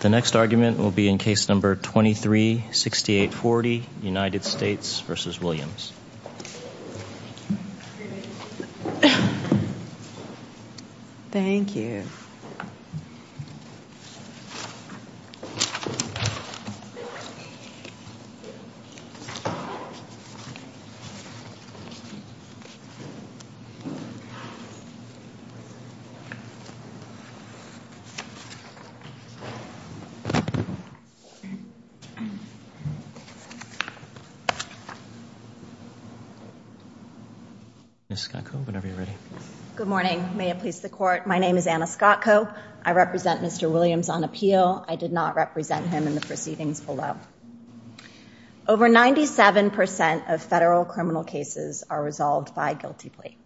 The next argument will be in Case No. 23-6840, United States v. Williams Ms. Scott Cope, whenever you're ready Good morning. May it please the Court, my name is Anna Scott Cope. I represent Mr. Williams on appeal. I did not represent him in the proceedings below. Over 97% of federal criminal cases are resolved by guilty plea.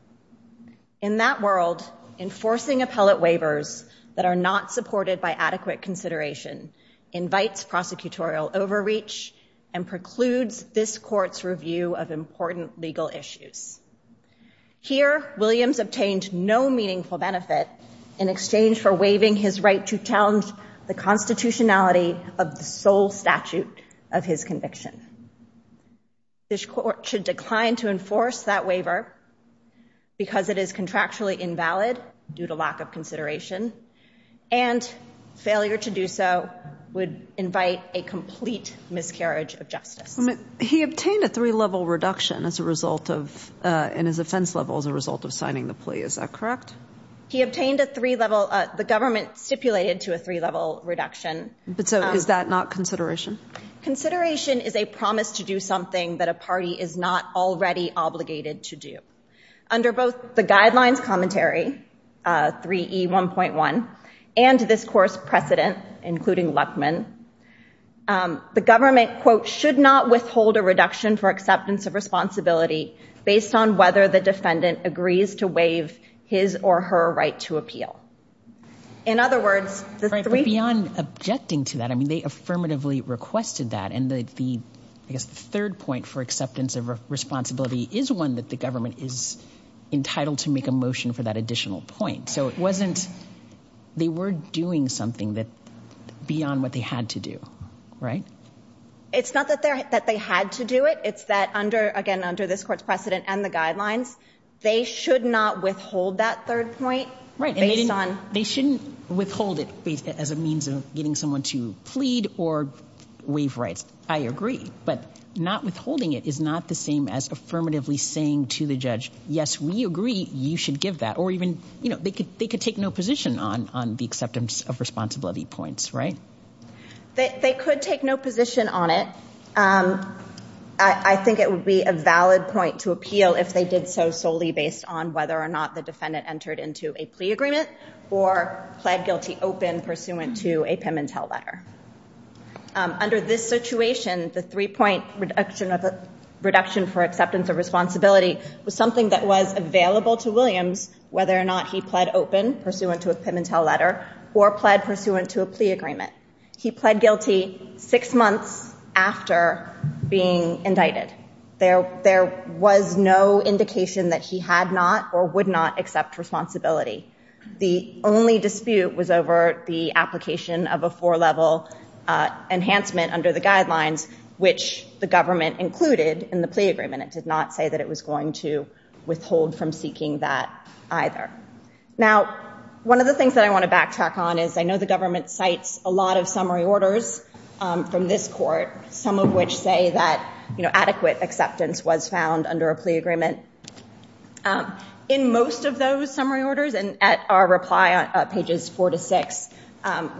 In that world, enforcing appellate waivers that are not supported by adequate consideration invites prosecutorial overreach and precludes this Court's review of important legal issues. Here Williams obtained no meaningful benefit in exchange for waiving his right to challenge the constitutionality of the sole statute of his conviction. This Court should decline to enforce that waiver because it is contractually invalid due to lack of consideration, and failure to do so would invite a complete miscarriage of justice. He obtained a three-level reduction in his offense level as a result of signing the plea. Is that correct? He obtained a three-level, the government stipulated to a three-level reduction. But so is that not consideration? Consideration is a promise to do something that a party is not already obligated to do. Under both the Guidelines Commentary, 3E1.1, and this Court's precedent, including Luckman, the government, quote, should not withhold a reduction for acceptance of responsibility based on whether the defendant agrees to waive his or her right to appeal. In other words, Right, but beyond objecting to that, I mean, they affirmatively requested that, and the, I guess, the third point for acceptance of responsibility is one that the government is entitled to make a motion for that additional point. So it wasn't, they were doing something beyond what they had to do, right? It's not that they had to do it, it's that under, again, under this Court's precedent and the Guidelines, they should not withhold that third point based on. Right, and they shouldn't withhold it as a means of getting someone to plead or waive rights. I agree, but not withholding it is not the same as affirmatively saying to the judge, yes, we agree, you should give that. Or even, you know, they could take no position on the acceptance of responsibility points, right? They could take no position on it. I think it would be a valid point to appeal if they did so solely based on whether or not Williams had entered into a plea agreement or pled guilty open pursuant to a PIM and TELL letter. Under this situation, the three-point reduction for acceptance of responsibility was something that was available to Williams whether or not he pled open pursuant to a PIM and TELL letter or pled pursuant to a plea agreement. He pled guilty six months after being indicted. There was no indication that he had not or would not accept responsibility. The only dispute was over the application of a four-level enhancement under the Guidelines, which the government included in the plea agreement. It did not say that it was going to withhold from seeking that either. Now, one of the things that I want to backtrack on is I know the government cites a lot of summary orders from this court, some of which say that, you know, adequate acceptance was found under a plea agreement. In most of those summary orders, and at our reply on pages four to six,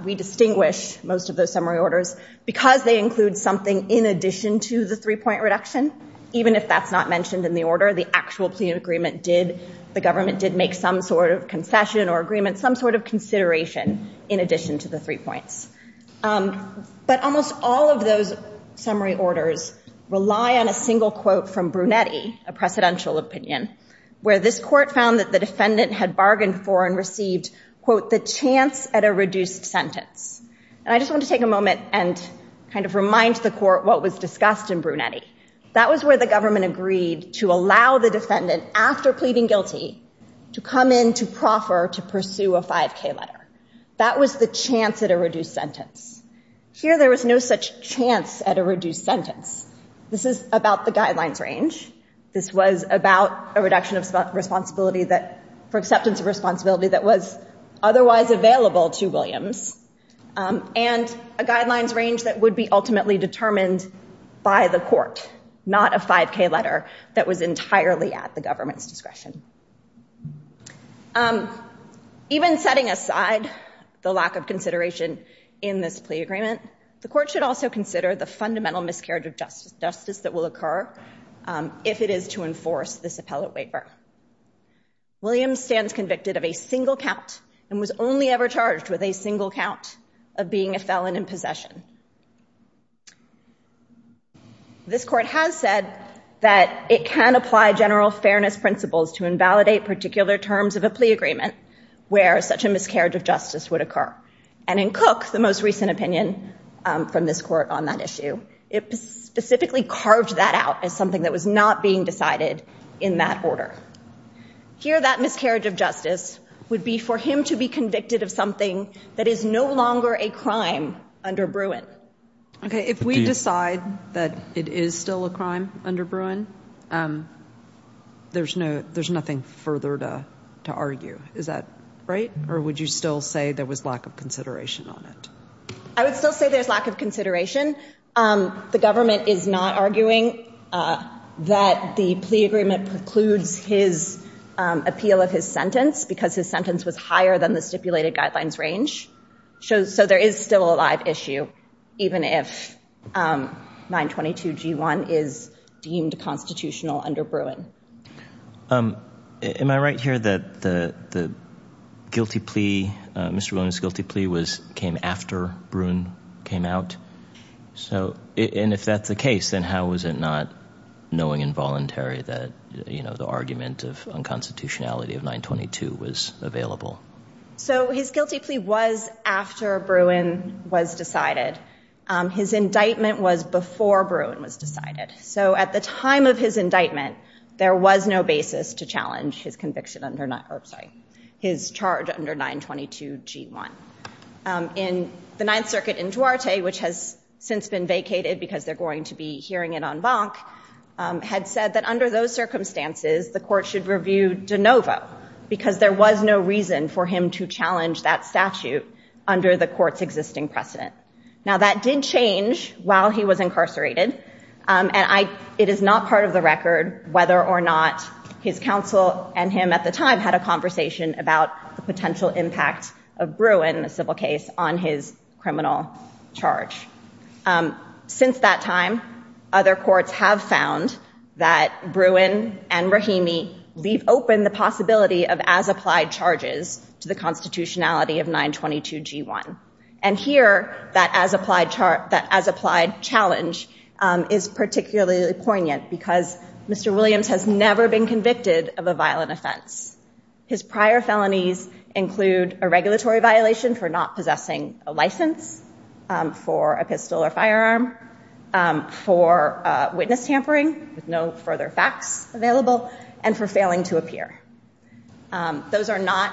we distinguish most of those summary orders because they include something in addition to the three-point reduction. Even if that's not mentioned in the order, the actual plea agreement did, the government did make some sort of agreement, some sort of consideration in addition to the three points. But almost all of those summary orders rely on a single quote from Brunetti, a precedential opinion, where this court found that the defendant had bargained for and received, quote, the chance at a reduced sentence. And I just want to take a moment and kind of remind the court what was discussed in Brunetti. That was where the government agreed to allow the defendant, after pleading guilty, to come in to proffer to pursue a 5k letter. That was the chance at a reduced sentence. Here, there was no such chance at a reduced sentence. This is about the guidelines range. This was about a reduction of responsibility that, for acceptance of responsibility that was otherwise available to Williams, and a guidelines range that would be ultimately determined by the court, not a 5k letter that was entirely at the government's discretion. Um, even setting aside the lack of consideration in this plea agreement, the court should also consider the fundamental miscarriage of justice that will occur if it is to enforce this appellate waiver. Williams stands convicted of a single count and was only ever charged with a single count of being a felon in possession. This court has said that it can apply general fairness principles to invalidate particular terms of a plea agreement where such a miscarriage of justice would occur. And in Cook, the most recent opinion from this court on that issue, it specifically carved that out as something that was not being decided in that order. Here, that miscarriage of justice would be for him to be convicted of something that is no longer a crime under Bruin. Okay, if we decide that it is still a crime under Bruin, um, there's no, there's nothing further to, to argue. Is that right? Or would you still say there was lack of consideration on it? I would still say there's lack of consideration. Um, the government is not arguing, uh, that the plea agreement precludes his, um, appeal of his sentence because his sentence was higher than the stipulated guidelines range. So, so there is still a live issue, even if, um, 922 G1 is deemed constitutional under Bruin. Um, am I right here that the, the guilty plea, uh, Mr. Williams' guilty plea was, came after Bruin came out? So, and if that's the case, then how was it not knowing involuntary that, you know, the argument of unconstitutionality of 922 was available? So his guilty plea was after Bruin was decided. Um, his indictment was before Bruin was decided. So at the time of his indictment, there was no basis to challenge his conviction under, or sorry, his charge under 922 G1. Um, in the Ninth Circuit in Duarte, which has since been vacated because they're going to be hearing it en banc, um, had said that under those circumstances, the court should review de novo because there was no reason for him to challenge that statute under the court's existing precedent. Now that did change while he was incarcerated. Um, and I, it is not part of the record whether or not his counsel and him at the time had a conversation about the potential impact of Bruin, the civil case on his criminal charge. Um, since that time, other courts have found that Bruin and Rahimi leave open the possibility of as applied charges to the constitutionality of 922 G1. And here that as applied charge, that as applied challenge, um, is particularly poignant because Mr. Williams has never been convicted of a violent offense. His prior felonies include a regulatory violation for not possessing a license, um, for a pistol or firearm, um, for a witness tampering with no further facts available and for failing to appear. Um, those are not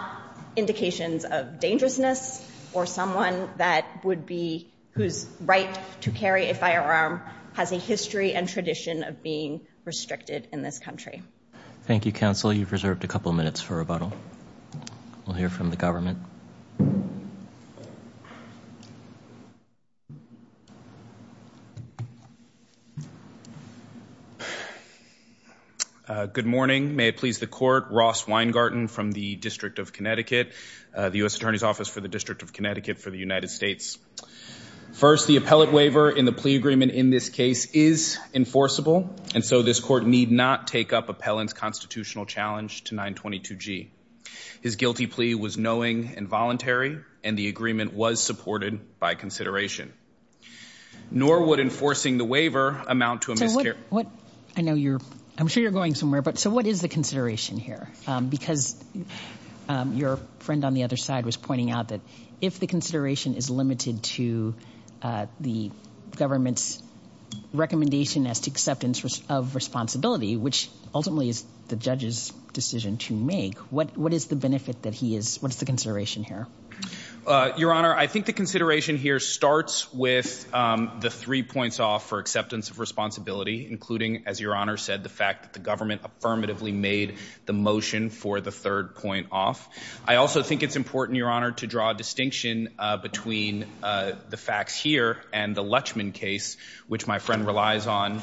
indications of dangerousness or someone that would be, whose right to carry a firearm has a history and tradition of being restricted in this country. Thank you, counsel. You've got a question. Uh, good morning. May it please the court, Ross Weingarten from the district of Connecticut, uh, the U S attorney's office for the district of Connecticut for the United States. First, the appellate waiver in the plea agreement in this case is enforceable. And so this court need not take up appellant's constitutional challenge to 922 G. His guilty plea was knowing and voluntary. And the agreement was supported by consideration nor would enforcing the waiver amount to a miscarriage. I know you're, I'm sure you're going somewhere, but so what is the consideration here? Um, because, um, your friend on the other side was pointing out that if the consideration is limited to, uh, the government's recommendation as to acceptance of responsibility, which ultimately is the judge's decision to make, what, what is the benefit that he is? What is the consideration here? Uh, your honor, I think the consideration here starts with, um, the three points off for acceptance of responsibility, including as your honor said, the fact that the government affirmatively made the motion for the third point off. I also think it's important your honor to draw a distinction, uh, between, uh, the facts here and the Lutchman case, which my friend relies on. Um,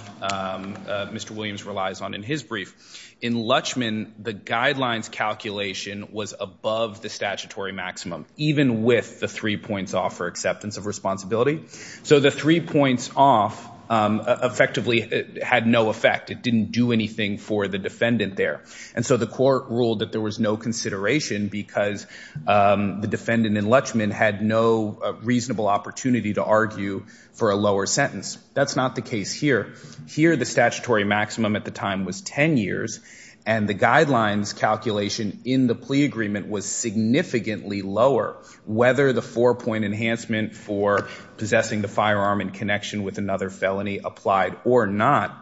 uh, Mr. Williams relies on in his brief in Lutchman, the guidelines calculation was above the statutory maximum, even with the three points off for acceptance of responsibility. So the three points off, um, effectively had no effect. It didn't do anything for the defendant there. And so the court ruled that there was no consideration because, um, the defendant in Lutchman had no reasonable opportunity to argue for a lower sentence. That's not the case here. Here, the statutory maximum at the time was 10 years and the guidelines calculation in the plea agreement was significantly lower, whether the four point enhancement for possessing the firearm in connection with another felony applied or not.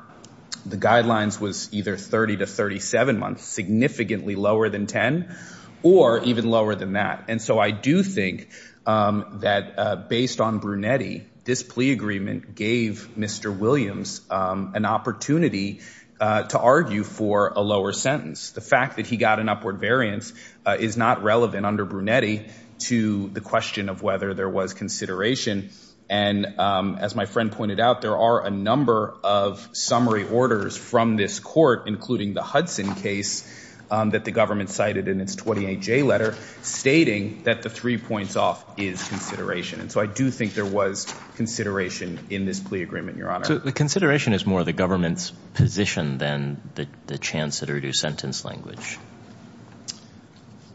The guidelines was either 30 to 37 months, significantly lower than 10 or even lower than that. And so I do think, um, that, uh, based on Brunetti, this plea agreement gave Mr. Williams, um, an opportunity, uh, to argue for a lower sentence. The fact that he got an upward variance, uh, is not relevant under Brunetti to the question of whether there was consideration. And, um, as my friend pointed out, there are a number of summary orders from this court, including the Hudson case, um, that the government cited in its 28 J letter stating that the three points off is consideration. And so I do think there was consideration in this plea agreement, Your Honor. So the consideration is more the government's position than the chance to reduce sentence language.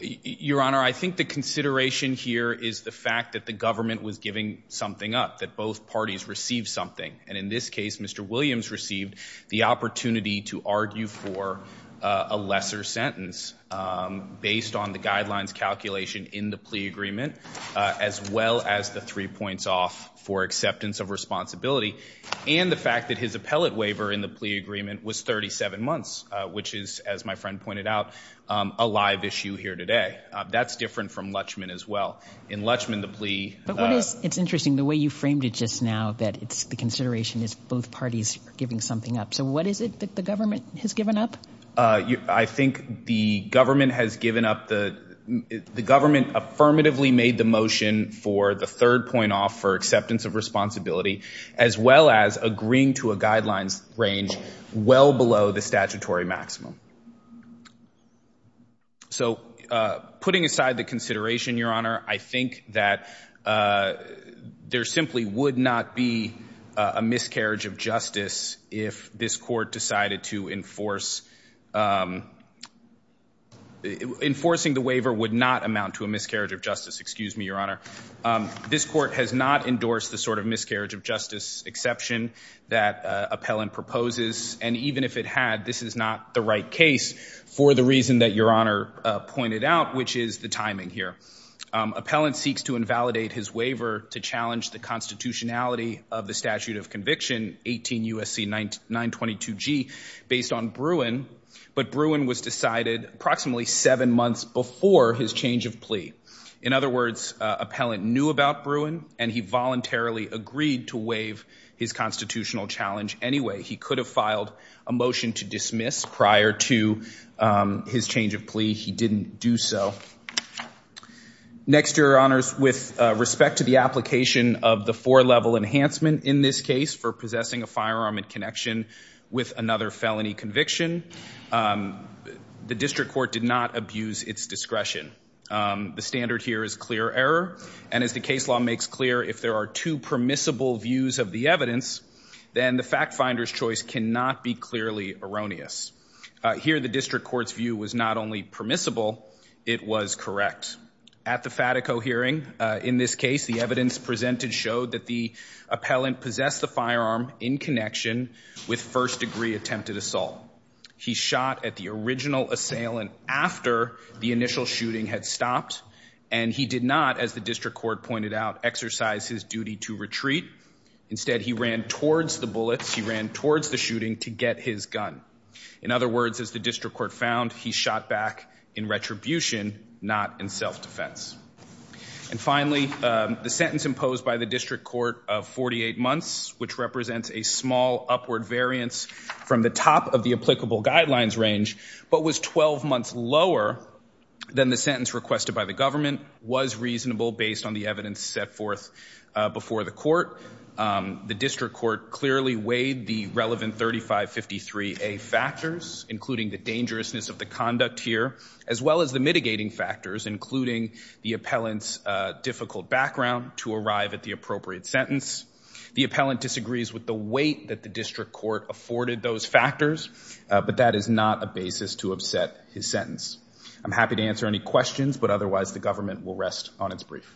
Your Honor, I think the consideration here is the fact that the government was giving something up, that both parties received something. And in this case, Mr. Williams received the opportunity to argue for a lesser sentence, um, based on the guidelines calculation in the plea agreement, uh, as well as the three points off for acceptance of responsibility and the fact that his appellate waiver in the plea agreement was 37 months, uh, which is, as my friend pointed out, um, a live issue here today. Uh, that's different from Lutchman as well. In Lutchman, the plea, uh, it's interesting the way you framed it just now, that it's the consideration is both parties giving something up. So what is it that the government has given up? Uh, I think the government has given up the, the government affirmatively made the motion for the third point off for acceptance of responsibility, as well as agreeing to a guidelines range well below the statutory maximum. So, uh, putting aside the consideration, Your Honor, I think that, uh, there simply would not be a miscarriage of justice if this court decided to enforce, um, enforcing the waiver would not amount to a miscarriage of justice. Excuse me, Your Honor. Um, this court has not endorsed the sort of miscarriage of justice exception that, uh, appellant proposes. And even if it had, this is not the right case for the reason that Your Honor, uh, pointed out, which is the timing here. Um, appellant seeks to invalidate his waiver to challenge the constitutionality of the statute of conviction 18 USC 922 G based on Bruin, but Bruin was decided approximately seven months before his change of plea. In other words, uh, appellant knew about Bruin and he voluntarily agreed to waive his constitutional challenge. Anyway, he could have filed a motion to dismiss prior to, um, his change of plea. He didn't do so. Next year honors with respect to the application of the four level enhancement in this case for possessing a firearm in connection with another felony conviction. Um, the district court did not abuse its discretion. Um, the standard here is clear error. And as the case law makes clear, if there are two permissible views of the evidence, then the fact finder's choice cannot be clearly erroneous. Uh, here, the district court's view was not only permissible. It was correct at the Fatico hearing. Uh, in this case, the evidence presented showed that the appellant possessed the firearm in connection with first degree attempted assault. He shot at the original assailant after the initial shooting had stopped. And he did not, as the district court pointed out, exercise his duty to retreat. Instead, he ran towards the bullets. He ran towards the shooting to get his gun. In other words, as the district court found, he shot back in retribution, not in self-defense. And finally, um, the sentence imposed by the district court of 48 months, which represents a small upward variance from the top of the applicable guidelines range, but was 12 months lower than the sentence requested by the government, was reasonable based on the evidence set forth, uh, before the court. Um, the district court clearly weighed the relevant 3553A factors, including the dangerousness of the conduct here, as well as the mitigating factors, including the appellant's, uh, difficult background to arrive at the appropriate sentence. The appellant disagrees with the weight that the district court afforded those factors. Uh, but that is not a basis to upset his sentence. I'm happy to answer any questions, but otherwise the government will rest on its brief.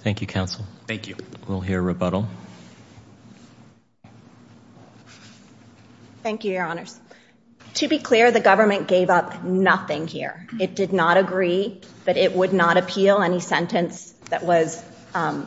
Thank you, counsel. Thank you. We'll hear rebuttal. Thank you, your honors. To be clear, the government gave up nothing here. It did not agree that it would not appeal any sentence that was, um,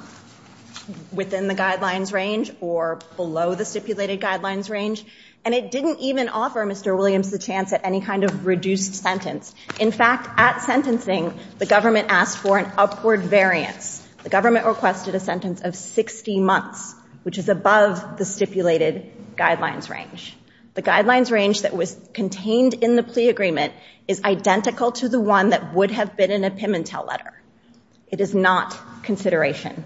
within the guidelines range or below the stipulated guidelines range, and it didn't even offer Mr. Williams the chance at any kind of reduced sentence. In fact, at sentencing, the government asked for an upward variance. The government requested a sentence of 60 months, which is above the stipulated guidelines range. The guidelines range that was contained in the plea agreement is identical to the one that would have been in a Pimentel letter. It is not consideration.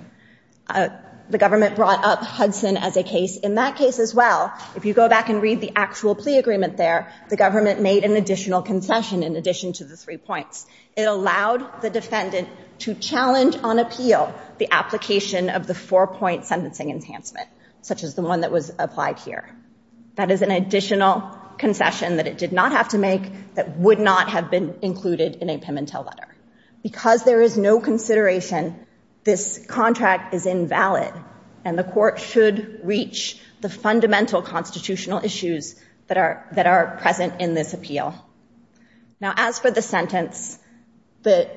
Uh, the government brought up Hudson as a case. In that case as well, if you go back and read the actual plea agreement there, the government made an additional concession in addition to the three points. It allowed the defendant to challenge on appeal the application of the four-point sentencing enhancement, such as the one that was applied here. That is an additional concession that it did not have to make that would not have been included in a Pimentel letter. Because there is no consideration, this contract is invalid, and the court should reach the fundamental constitutional issues that are present in this appeal. Now, as for the sentence, the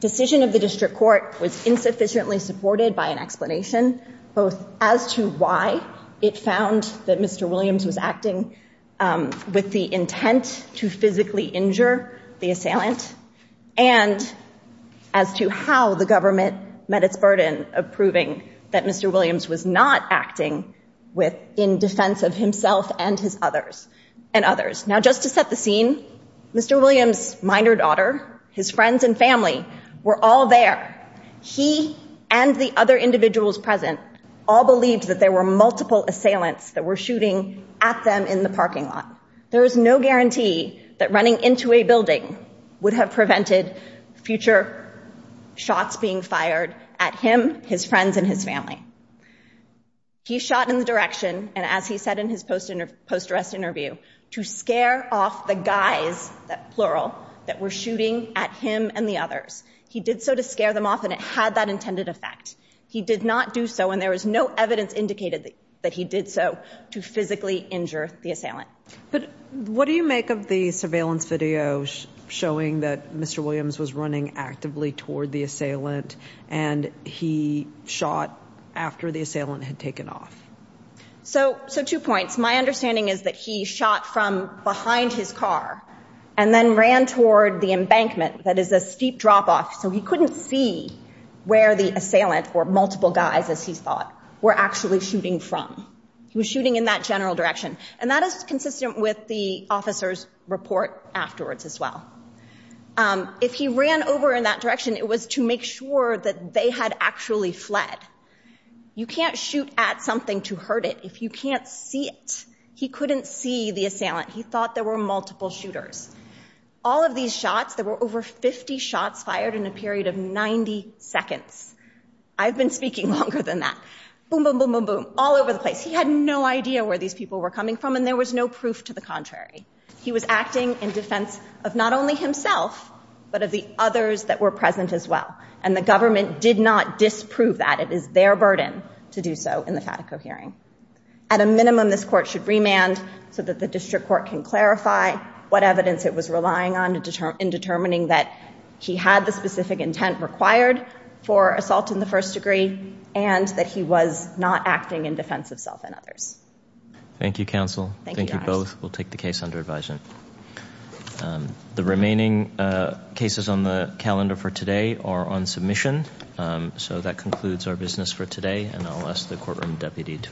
decision of the district court was insufficiently supported by an explanation, both as to why it found that Mr. Williams was acting with the intent to physically Mr. Williams was not acting with in defense of himself and his others and others. Now, just to set the scene, Mr. Williams' minor daughter, his friends and family were all there. He and the other individuals present all believed that there were multiple assailants that were shooting at them in the parking lot. There is no guarantee that running into a building would have prevented future shots being fired at him, his friends, and his family. He shot in the direction, and as he said in his post-arrest interview, to scare off the guys, plural, that were shooting at him and the others. He did so to scare them off, and it had that intended effect. He did not do so, and there was no evidence indicated that he did so to physically injure the assailant. But what do you make of the surveillance video showing that Mr. Williams was running actively toward the assailant, and he shot after the assailant had taken off? So two points. My understanding is that he shot from behind his car and then ran toward the embankment. That is a steep drop-off, so he couldn't see where the assailant or multiple guys, as he thought, were actually shooting from. He was shooting in that general direction, and that is consistent with the officer's report afterwards as well. If he ran over in that direction, it was to make sure that they had actually fled. You can't shoot at something to hurt it if you can't see it. He couldn't see the assailant. He thought there were multiple shooters. All of these shots, there were over 50 shots fired in a period of 90 seconds. I've been speaking longer than that. Boom, boom, boom, boom, boom, all over the place. He had no idea where these people were coming from, and there was no proof to the contrary. He was acting in defense of not only himself, but of the others that were present as well, and the government did not disprove that. It is their burden to do so in the Fatico hearing. At a minimum, this court should remand so that the district court can clarify what evidence it was relying on in determining that he had the specific intent required for assault in the first degree, and that he was not acting in defense of self and others. Thank you, counsel. Thank you both. We'll take the case under advisement. The remaining cases on the calendar for today are on submission, so that concludes our business for today, and I'll ask the courtroom deputy to